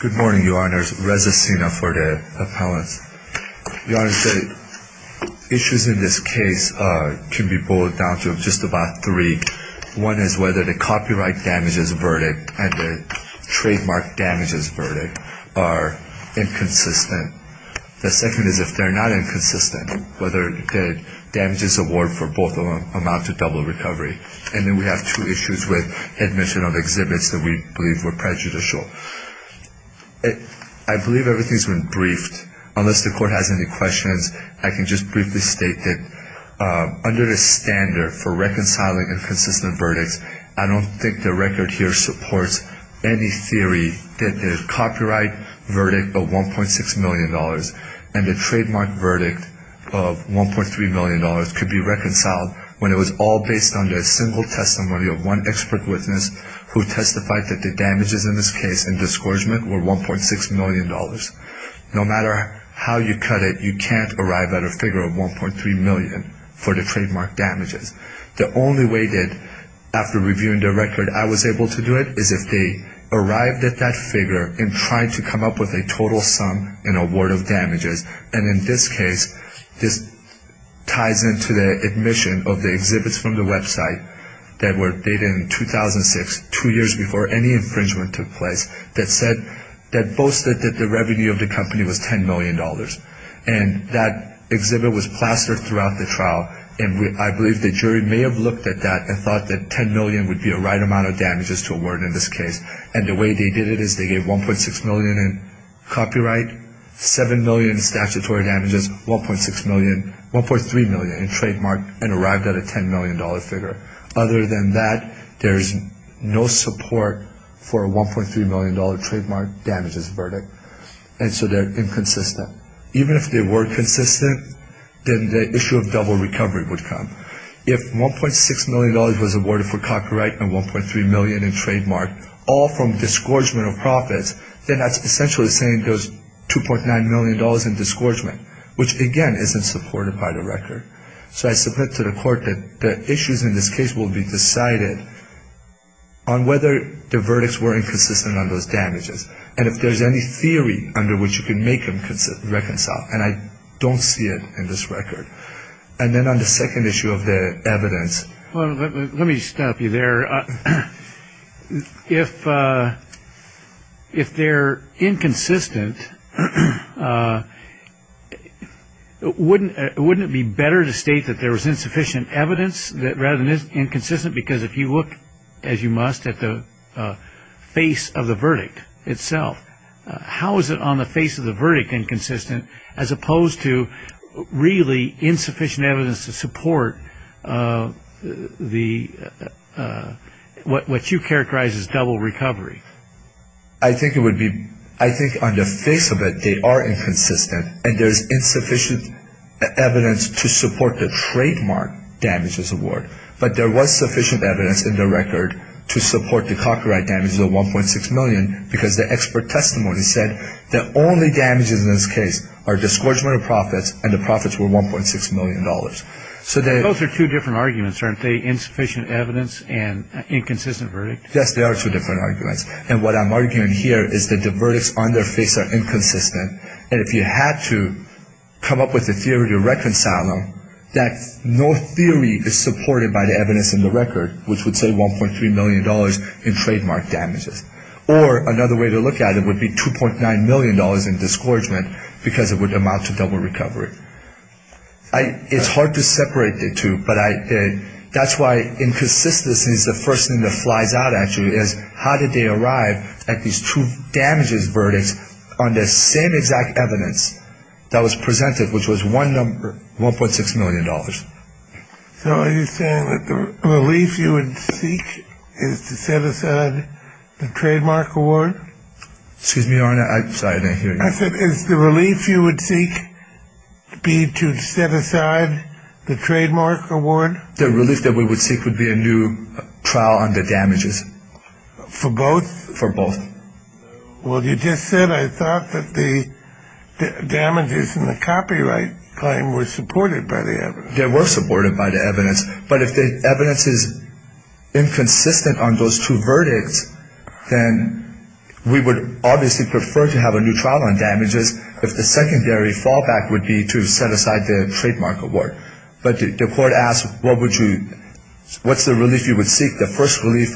Good morning, Your Honors. Reza Sina for the appellants. Your Honors, the issues in this case can be boiled down to just about three. One is whether the copyright damages verdict and the trademark damages verdict are inconsistent. The second is if they're not inconsistent, whether the damages award for both of them amount to double recovery. And then we have two issues with admission of exhibits that we believe were prejudicial. I believe everything's been briefed. Unless the court has any questions, I can just briefly state that under the standard for reconciling inconsistent verdicts, I don't think the record here supports any theory that the copyright verdict of $1.6 million and the trademark verdict of $1.3 million could be reconciled when it was all based on a single testimony of one expert witness who testified that the damages in this case and discouragement were $1.6 million. No matter how you cut it, you can't arrive at a figure of $1.3 million for the trademark damages. The only way that after reviewing the record I was able to do it is if they arrived at that figure and tried to come up with a total sum in award of damages. And in this case, this ties into the admission of the exhibits from the website that were dated in 2006, two years before any infringement took place, that said that boasted that the revenue of the company was $10 million. And that exhibit was plastered throughout the trial, and I believe the jury may have looked at that and thought that $10 million would be a right amount of damages to award in this case. And the way they did it is they gave $1.6 million in copyright, $7 million in statutory damages, $1.3 million in trademark, and arrived at a $10 million figure. Other than that, there's no support for a $1.3 million trademark damages verdict. And so they're inconsistent. Even if they were consistent, then the issue of double recovery would come. If $1.6 million was awarded for copyright and $1.3 million in trademark, all from disgorgement of profits, then that's essentially saying there's $2.9 million in disgorgement, which, again, isn't supported by the record. So I submit to the court that the issues in this case will be decided on whether the verdicts were inconsistent on those damages, and if there's any theory under which you can make them reconcile, and I don't see it in this record. And then on the second issue of the evidence. Let me stop you there. If they're inconsistent, wouldn't it be better to state that there was insufficient evidence rather than inconsistent? Because if you look, as you must, at the face of the verdict itself, how is it on the face of the verdict inconsistent as opposed to really insufficient evidence to support what you characterize as double recovery? I think it would be, I think on the face of it, they are inconsistent, and there's insufficient evidence to support the trademark damages award. But there was sufficient evidence in the record to support the copyright damages of $1.6 million because the expert testimony said the only damages in this case are disgorgement of profits, and the profits were $1.6 million. Those are two different arguments, aren't they? Insufficient evidence and inconsistent verdict? Yes, they are two different arguments. And what I'm arguing here is that the verdicts on their face are inconsistent, and if you had to come up with a theory to reconcile them, that no theory is supported by the evidence in the record, which would say $1.3 million in trademark damages. Or another way to look at it would be $2.9 million in disgorgement because it would amount to double recovery. It's hard to separate the two, but that's why inconsistency is the first thing that flies out, actually, is how did they arrive at these two damages verdicts on the same exact evidence that was presented, which was $1.6 million. So are you saying that the relief you would seek is to set aside the trademark award? Excuse me, Your Honor, I'm sorry, I didn't hear you. I said is the relief you would seek be to set aside the trademark award? The relief that we would seek would be a new trial on the damages. For both? For both. Well, you just said I thought that the damages in the copyright claim were supported by the evidence. They were supported by the evidence. But if the evidence is inconsistent on those two verdicts, then we would obviously prefer to have a new trial on damages if the secondary fallback would be to set aside the trademark award. But the court asked, what's the relief you would seek? The first relief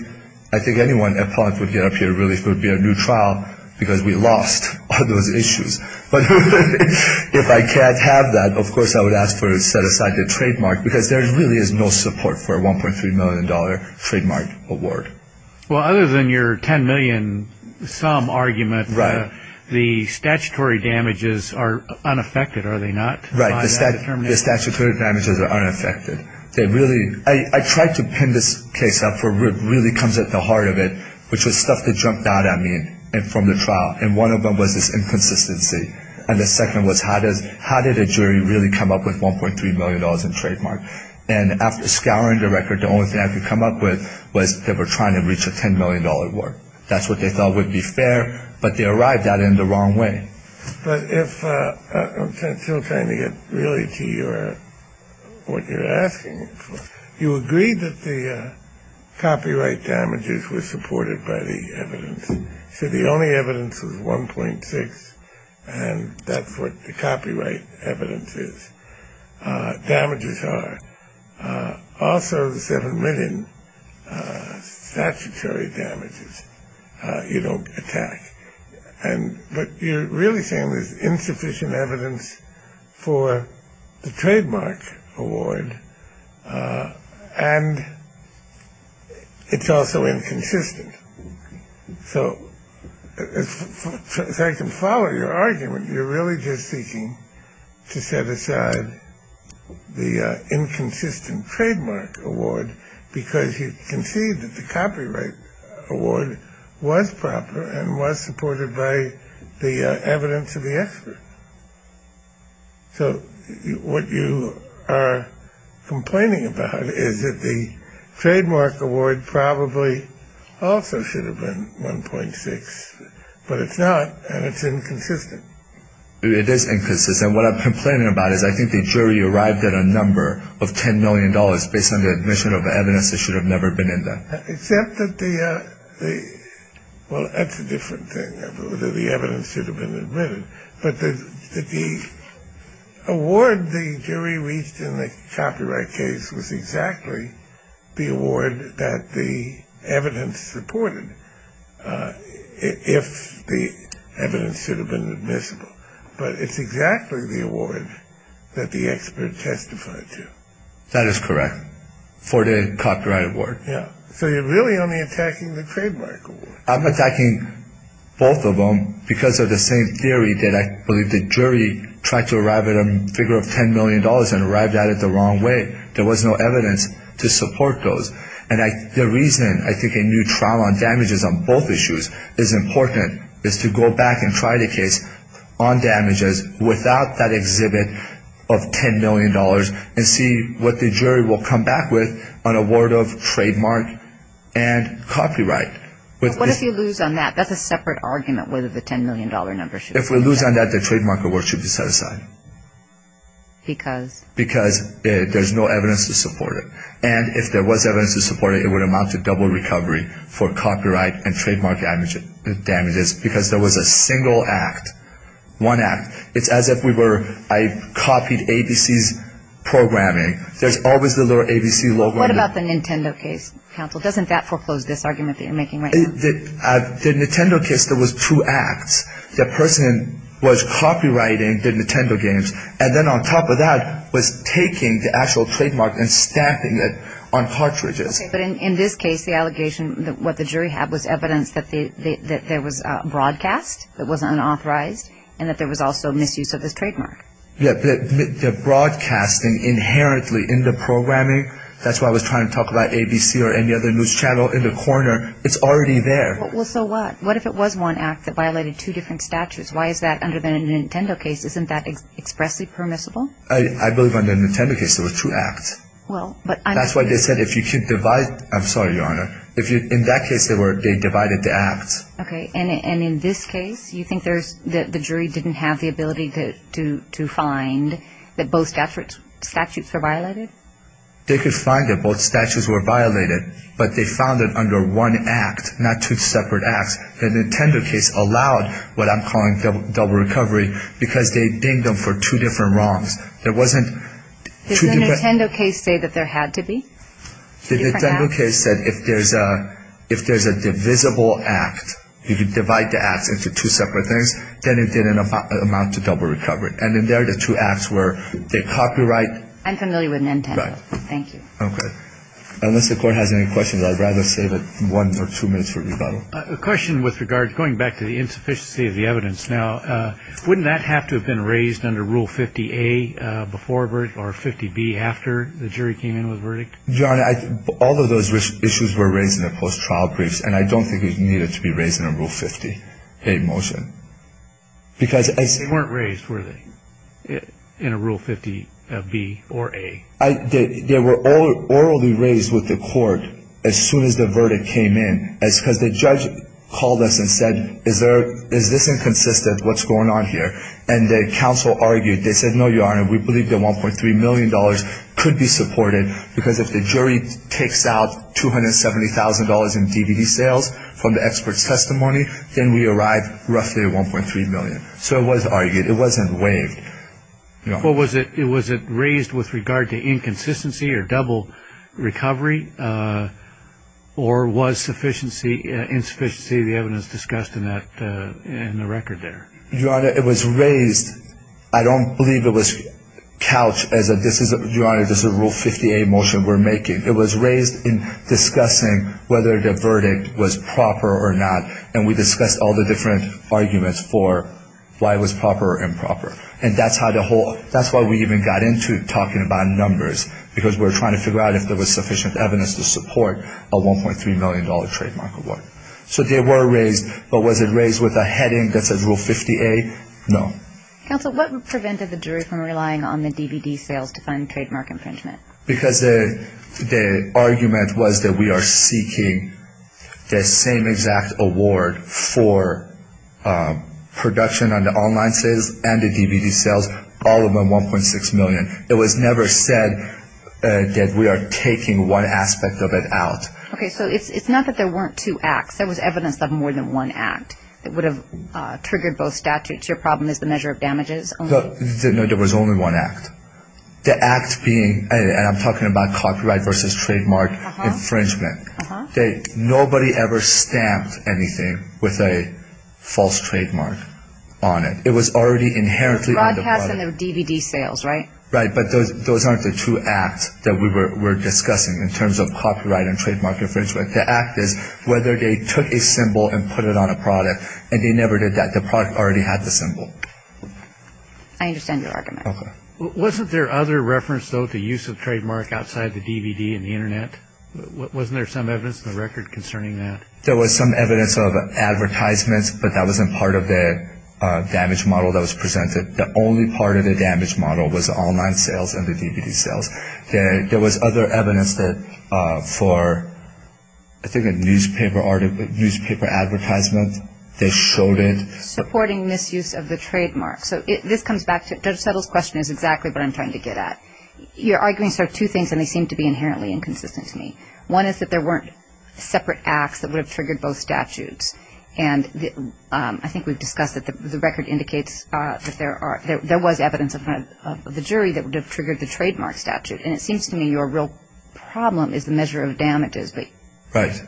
I think anyone would get up here would be a new trial because we lost on those issues. But if I can't have that, of course I would ask to set aside the trademark because there really is no support for a $1.3 million trademark award. Well, other than your $10 million some argument, the statutory damages are unaffected, are they not? Right, the statutory damages are unaffected. I tried to pin this case up where it really comes at the heart of it, which was stuff that jumped out at me from the trial. And one of them was this inconsistency. And the second was how did a jury really come up with $1.3 million in trademark? And after scouring the record, the only thing I could come up with was they were trying to reach a $10 million award. That's what they thought would be fair, but they arrived at it in the wrong way. But I'm still trying to get really to what you're asking for. You agreed that the copyright damages were supported by the evidence. So the only evidence was $1.6 million, and that's what the copyright evidence is. Damages are also the $7 million statutory damages you don't attack. But you're really saying there's insufficient evidence for the trademark award, and it's also inconsistent. So if I can follow your argument, you're really just seeking to set aside the inconsistent trademark award because you conceived that the copyright award was proper and was supported by the evidence of the expert. So what you are complaining about is that the trademark award probably also should have been $1.6 million, but it's not, and it's inconsistent. It is inconsistent. And what I'm complaining about is I think the jury arrived at a number of $10 million based on the admission of evidence that should have never been in there. Except that the ‑‑ well, that's a different thing, that the evidence should have been admitted. But the award the jury reached in the copyright case was exactly the award that the evidence supported, if the evidence should have been admissible. But it's exactly the award that the expert testified to. That is correct, for the copyright award. Yeah. So you're really only attacking the trademark award. I'm attacking both of them because of the same theory that I believe the jury tried to arrive at a figure of $10 million and arrived at it the wrong way. There was no evidence to support those. And the reason I think a new trial on damages on both issues is important is to go back and try the case on damages without that exhibit of $10 million and see what the jury will come back with on award of trademark and copyright. But what if you lose on that? That's a separate argument whether the $10 million number should be set aside. If we lose on that, the trademark award should be set aside. Because? Because there's no evidence to support it. And if there was evidence to support it, it would amount to double recovery for copyright and trademark damages because there was a single act, one act. It's as if we were I copied ABC's programming. There's always the ABC logo. What about the Nintendo case, counsel? Doesn't that foreclose this argument that you're making right now? The Nintendo case, there was two acts. The person was copywriting the Nintendo games. And then on top of that was taking the actual trademark and stamping it on cartridges. Okay. But in this case, the allegation, what the jury had was evidence that there was broadcast that was unauthorized and that there was also misuse of this trademark. Yeah. The broadcasting inherently in the programming, that's why I was trying to talk about ABC or any other news channel in the corner. It's already there. Well, so what? What if it was one act that violated two different statutes? Why is that under the Nintendo case? Isn't that expressly permissible? I believe under the Nintendo case there were two acts. That's why they said if you can't divide. I'm sorry, Your Honor. In that case, they divided the acts. Okay. And in this case, you think the jury didn't have the ability to find that both statutes were violated? They could find that both statutes were violated, but they found that under one act, not two separate acts, the Nintendo case allowed what I'm calling double recovery because they dinged them for two different wrongs. There wasn't two different acts. Did the Nintendo case say that there had to be two different acts? The Nintendo case said if there's a divisible act, if you divide the acts into two separate things, then it did amount to double recovery. And in there, the two acts were the copyright. I'm familiar with Nintendo. Right. Thank you. Okay. Unless the Court has any questions, I'd rather save one or two minutes for rebuttal. A question with regard, going back to the insufficiency of the evidence now, wouldn't that have to have been raised under Rule 50A before or 50B after the jury came in with a verdict? Your Honor, all of those issues were raised in the post-trial briefs, and I don't think it needed to be raised in a Rule 50A motion. They weren't raised, were they, in a Rule 50B or A? They were orally raised with the Court as soon as the verdict came in, because the judge called us and said, is this inconsistent, what's going on here? And the counsel argued. They said, no, Your Honor, we believe that $1.3 million could be supported, because if the jury takes out $270,000 in DVD sales from the expert's testimony, then we arrive roughly at $1.3 million. So it was argued. It wasn't waived. Was it raised with regard to inconsistency or double recovery, or was insufficiency of the evidence discussed in the record there? Your Honor, it was raised. I don't believe it was couched as, Your Honor, this is a Rule 50A motion we're making. It was raised in discussing whether the verdict was proper or not, and we discussed all the different arguments for why it was proper or improper. And that's why we even got into talking about numbers, because we were trying to figure out if there was sufficient evidence to support a $1.3 million trademark award. So they were raised, but was it raised with a heading that said Rule 50A? No. Counsel, what prevented the jury from relying on the DVD sales to fund trademark infringement? Because the argument was that we are seeking the same exact award for production on the online sales and the DVD sales, all of them $1.6 million. It was never said that we are taking one aspect of it out. Okay. So it's not that there weren't two acts. There was evidence of more than one act that would have triggered both statutes. Your problem is the measure of damages only? No, there was only one act. The act being, and I'm talking about copyright versus trademark infringement. Nobody ever stamped anything with a false trademark on it. It was already inherently on the product. It was broadcast in the DVD sales, right? Right, but those aren't the two acts that we were discussing in terms of copyright and trademark infringement. The act is whether they took a symbol and put it on a product, and they never did that. The product already had the symbol. I understand your argument. Okay. Wasn't there other reference, though, to use of trademark outside the DVD and the Internet? Wasn't there some evidence in the record concerning that? There was some evidence of advertisements, but that wasn't part of the damage model that was presented. The only part of the damage model was the online sales and the DVD sales. There was other evidence that for, I think, a newspaper advertisement, they showed it. Supporting misuse of the trademark. So this comes back to it. Judge Settle's question is exactly what I'm trying to get at. Your arguments are two things, and they seem to be inherently inconsistent to me. One is that there weren't separate acts that would have triggered both statutes. And I think we've discussed that the record indicates that there was evidence in front of the jury that would have triggered the trademark statute. And it seems to me your real problem is the measure of damages. Right.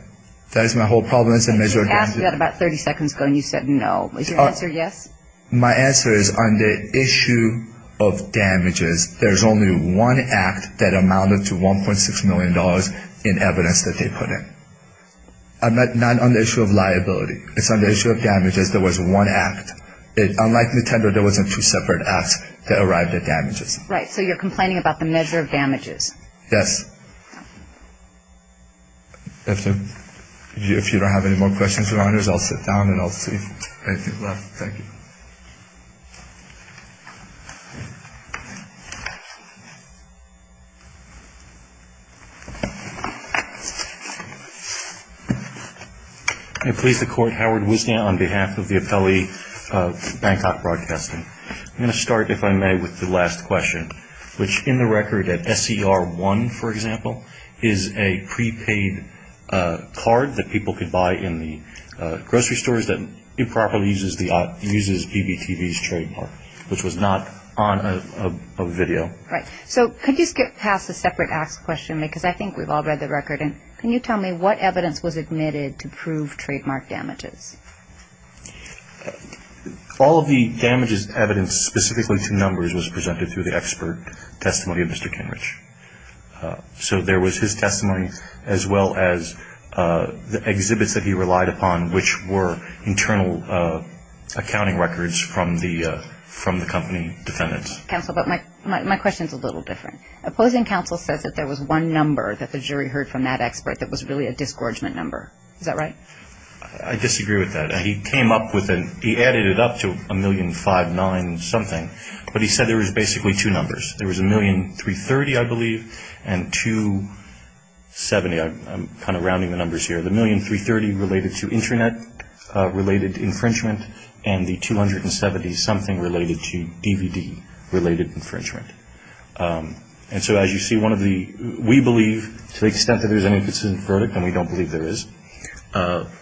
That is my whole problem is the measure of damages. I asked you that about 30 seconds ago, and you said no. Is your answer yes? My answer is on the issue of damages, there's only one act that amounted to $1.6 million in evidence that they put in. Not on the issue of liability. It's on the issue of damages. There was one act. Unlike Nintendo, there wasn't two separate acts that arrived at damages. Right. So you're complaining about the measure of damages. Yes. If you don't have any more questions, Your Honors, I'll sit down and I'll see if there's anything left. Thank you. I please the Court, Howard Wisniak, on behalf of the appellee of Bangkok Broadcasting. I'm going to start, if I may, with the last question, which in the record at SCR1, for example, is a prepaid card that people could buy in the grocery stores that improperly uses BBTV's trademark, which was not on a video. Right. So could you skip past the separate ask question? Because I think we've all read the record. Can you tell me what evidence was admitted to prove trademark damages? All of the damages evidence, specifically to numbers, was presented through the expert testimony of Mr. Kinrich. So there was his testimony as well as the exhibits that he relied upon, which were internal accounting records from the company defendants. Counsel, but my question is a little different. Opposing counsel says that there was one number that the jury heard from that expert that was really a disgorgement number. Is that right? I disagree with that. He added it up to a million five nine something, but he said there was basically two numbers. There was a million 330, I believe, and 270. I'm kind of rounding the numbers here. The million 330 related to Internet-related infringement and the 270 something related to DVD-related infringement. And so as you see, we believe to the extent that there's any consistent verdict, and we don't believe there is,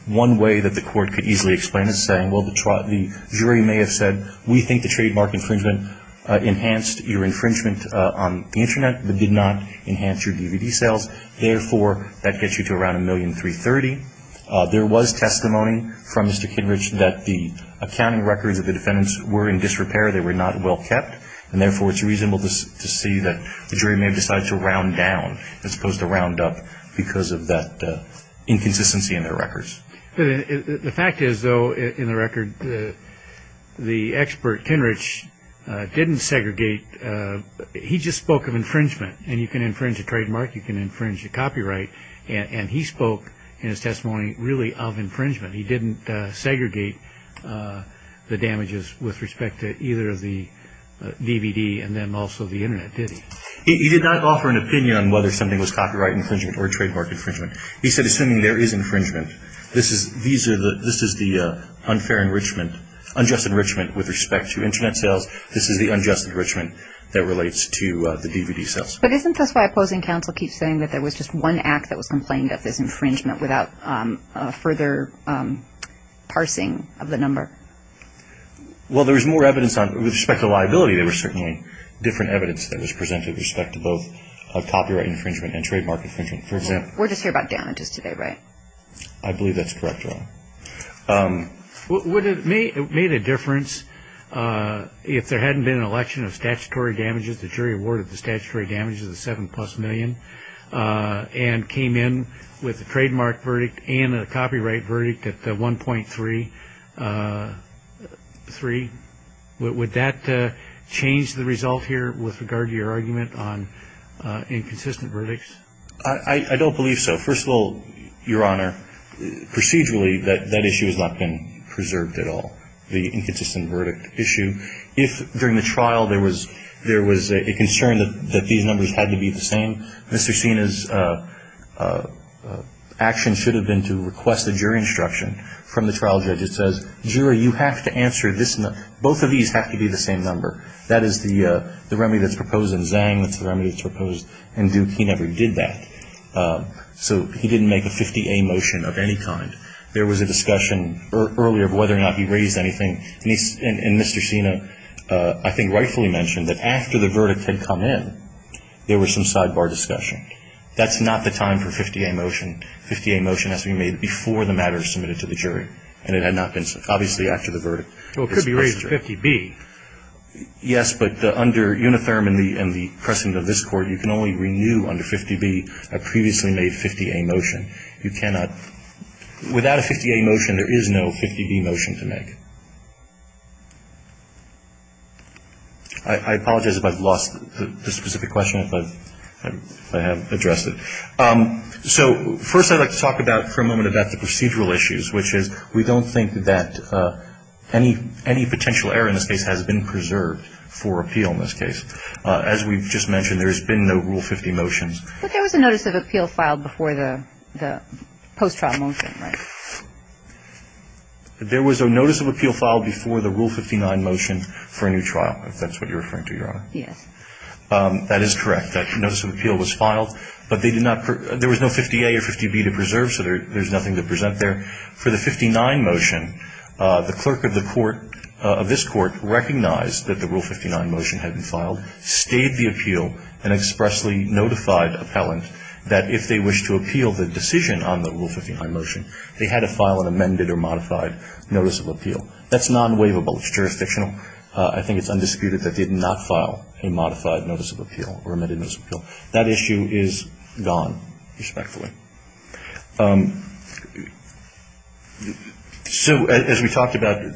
one way that the court could easily explain it is saying, well, the jury may have said, we think the trademark infringement enhanced your infringement on the Internet but did not enhance your DVD sales. Therefore, that gets you to around a million 330. There was testimony from Mr. Kinrich that the accounting records of the defendants were in disrepair. They were not well kept. And therefore, it's reasonable to see that the jury may have decided to round down as opposed to round up because of that inconsistency in their records. The fact is, though, in the record, the expert Kinrich didn't segregate. He just spoke of infringement. And you can infringe a trademark. You can infringe a copyright. And he spoke in his testimony really of infringement. He didn't segregate the damages with respect to either of the DVD and then also the Internet, did he? He did not offer an opinion on whether something was copyright infringement or trademark infringement. He said, assuming there is infringement, this is the unfair enrichment, unjust enrichment with respect to Internet sales. This is the unjust enrichment that relates to the DVD sales. But isn't this why opposing counsel keeps saying that there was just one act that was complained of, this infringement, without further parsing of the number? Well, there was more evidence with respect to liability. There was certainly different evidence that was presented with respect to both copyright infringement and trademark infringement, for example. We're just here about damages today, right? I believe that's correct, Your Honor. Would it have made a difference if there hadn't been an election of statutory damages, the jury awarded the statutory damages a seven-plus million, and came in with a trademark verdict and a copyright verdict at 1.33? Would that change the result here with regard to your argument on inconsistent verdicts? I don't believe so. First of all, Your Honor, procedurally that issue has not been preserved at all, the inconsistent verdict issue. If during the trial there was a concern that these numbers had to be the same, Mr. Sena's action should have been to request a jury instruction from the trial judge that says, Jury, you have to answer this number. Both of these have to be the same number. That is the remedy that's proposed in Zhang. That's the remedy that's proposed in Duke. He never did that. So he didn't make a 50-A motion of any kind. There was a discussion earlier of whether or not he raised anything. And Mr. Sena, I think, rightfully mentioned that after the verdict had come in, there was some sidebar discussion. That's not the time for a 50-A motion. A 50-A motion has to be made before the matter is submitted to the jury. And it had not been so. Obviously, after the verdict. Well, it could be raised to 50-B. Yes, but under Unitherm and the precedent of this Court, you can only renew under 50-B a previously made 50-A motion. You cannot, without a 50-A motion, there is no 50-B motion to make. I apologize if I've lost the specific question, if I have addressed it. So first I'd like to talk about for a moment about the procedural issues, which is we don't think that any potential error in this case has been preserved for appeal in this case. As we've just mentioned, there's been no Rule 50 motions. But there was a notice of appeal filed before the post-trial motion, right? There was a notice of appeal filed before the Rule 59 motion for a new trial, if that's what you're referring to, Your Honor. Yes. That is correct. That notice of appeal was filed. But they did not, there was no 50-A or 50-B to preserve, so there's nothing to present there. For the 59 motion, the clerk of the Court, of this Court, recognized that the Rule 59 motion had been filed, stayed the appeal, and expressly notified appellant that if they wished to appeal the decision on the Rule 59 motion, they had to file an amended or modified notice of appeal. That's non-waivable. It's jurisdictional. I think it's undisputed that they did not file a modified notice of appeal or amended notice of appeal. That issue is gone, respectfully. So as we talked about,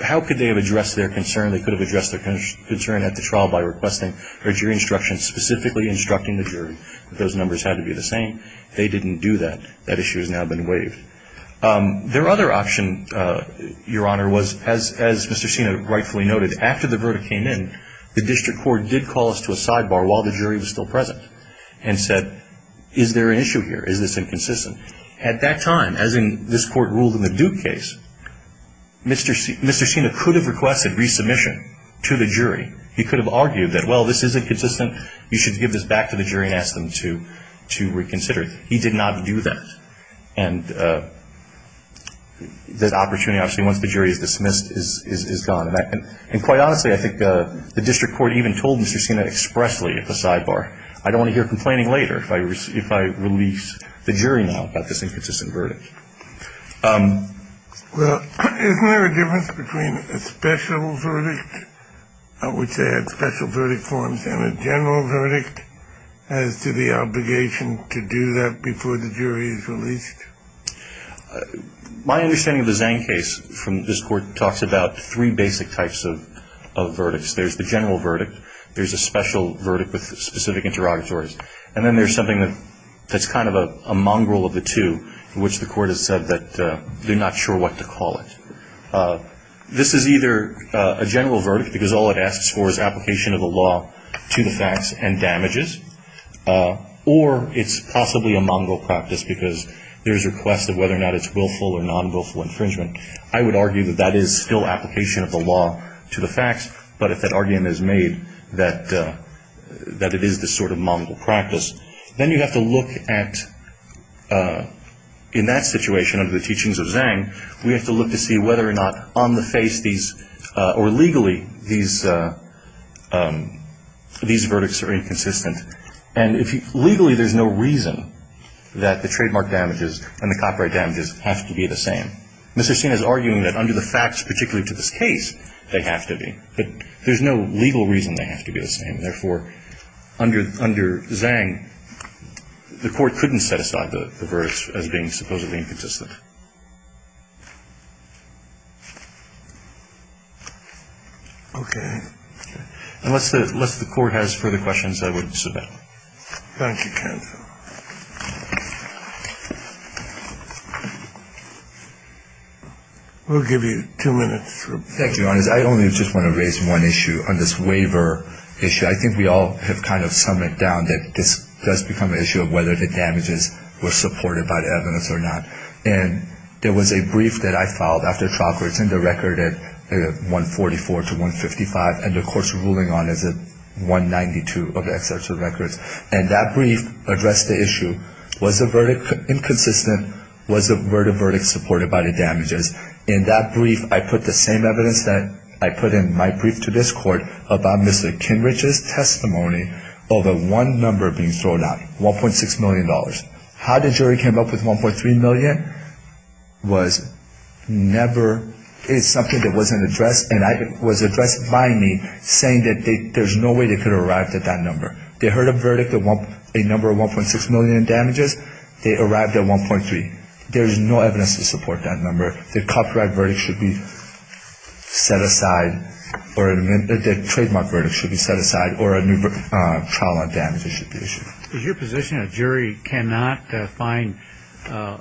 how could they have addressed their concern? They could have addressed their concern at the trial by requesting their jury instructions, specifically instructing the jury that those numbers had to be the same. They didn't do that. That issue has now been waived. Their other option, Your Honor, was, as Mr. Sena rightfully noted, after the verdict came in, the district court did call us to a sidebar while the jury was still present and said, is there an issue here? Is this inconsistent? At that time, as this Court ruled in the Duke case, Mr. Sena could have requested resubmission to the jury. He could have argued that, well, this is inconsistent. You should give this back to the jury and ask them to reconsider it. He did not do that. And that opportunity, obviously, once the jury is dismissed, is gone. And quite honestly, I think the district court even told Mr. Sena expressly at the sidebar, I don't want to hear complaining later if I release the jury now about this inconsistent verdict. Well, isn't there a difference between a special verdict, which they had special verdict forms, and a general verdict as to the obligation to do that before the jury is released? My understanding of the Zhang case from this Court talks about three basic types of verdicts. There's the general verdict. There's a special verdict with specific interrogatories. And then there's something that's kind of a mongrel of the two, in which the Court has said that they're not sure what to call it. This is either a general verdict because all it asks for is application of the law to the facts and damages, or it's possibly a mongrel practice because there's a request of whether or not it's willful or non-willful infringement. I would argue that that is still application of the law to the facts, but if that argument is made that it is this sort of mongrel practice, then you have to look at, in that situation, under the teachings of Zhang, we have to look to see whether or not on the face or legally these verdicts are inconsistent. And legally there's no reason that the trademark damages and the copyright damages have to be the same. Mr. Sena is arguing that under the facts, particularly to this case, they have to be. But there's no legal reason they have to be the same. Therefore, under Zhang, the Court couldn't set aside the verdicts as being supposedly inconsistent. Okay. Unless the Court has further questions, I would submit. Thank you, counsel. We'll give you two minutes. Thank you, Your Honor. I only just want to raise one issue on this waiver issue. I think we all have kind of summed it down, that this does become an issue of whether the damages were supported by the evidence or not. And there was a brief that I filed after trial for it's in the record at 144 to 155, and the Court's ruling on it is at 192 of the excerpts of the records. And that brief addressed the issue. Was the verdict inconsistent? Was the verdict supported by the damages? In that brief, I put the same evidence that I put in my brief to this Court about Mr. Kinrich's testimony of a one number being thrown out, $1.6 million. How the jury came up with $1.3 million was never, it's something that wasn't addressed and was addressed by me, saying that there's no way they could have arrived at that number. They heard a verdict, a number of $1.6 million in damages. They arrived at $1.3 million. There is no evidence to support that number. The copyright verdict should be set aside, or the trademark verdict should be set aside, or a new trial on damages should be issued. Is your position a jury cannot find a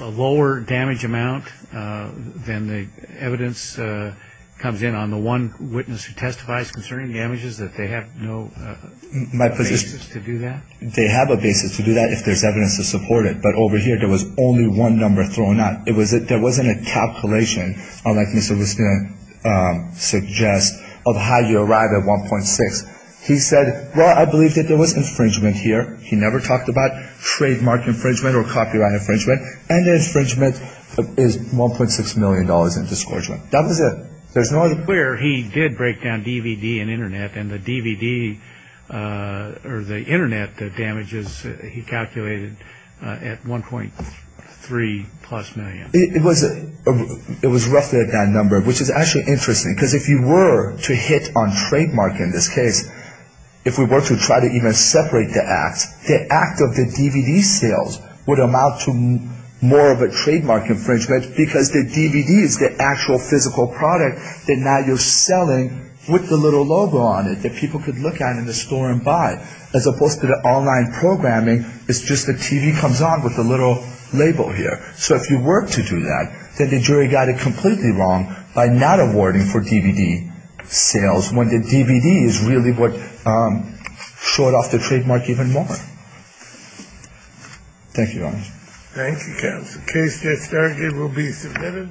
lower damage amount than the evidence comes in on the one witness who testifies concerning damages, that they have no basis to do that? They have a basis to do that if there's evidence to support it. But over here, there was only one number thrown out. There wasn't a calculation, unlike Mr. Wisniewski suggests, of how you arrive at $1.6 million. He said, well, I believe that there was infringement here. He never talked about trademark infringement or copyright infringement. And the infringement is $1.6 million in disgorgement. That was it. Where he did break down DVD and Internet, and the DVD or the Internet damages he calculated at $1.3 million. It was roughly at that number, which is actually interesting, because if you were to hit on trademark in this case, if we were to try to even separate the act, the act of the DVD sales would amount to more of a trademark infringement because the DVD is the actual physical product that now you're selling with the little logo on it that people could look at in the store and buy. As opposed to the online programming, it's just the TV comes on with the little label here. So if you were to do that, then the jury got it completely wrong by not awarding for DVD sales, when the DVD is really what showed off the trademark even more. Thank you, Your Honor. Thank you, counsel. Case that's started will be submitted.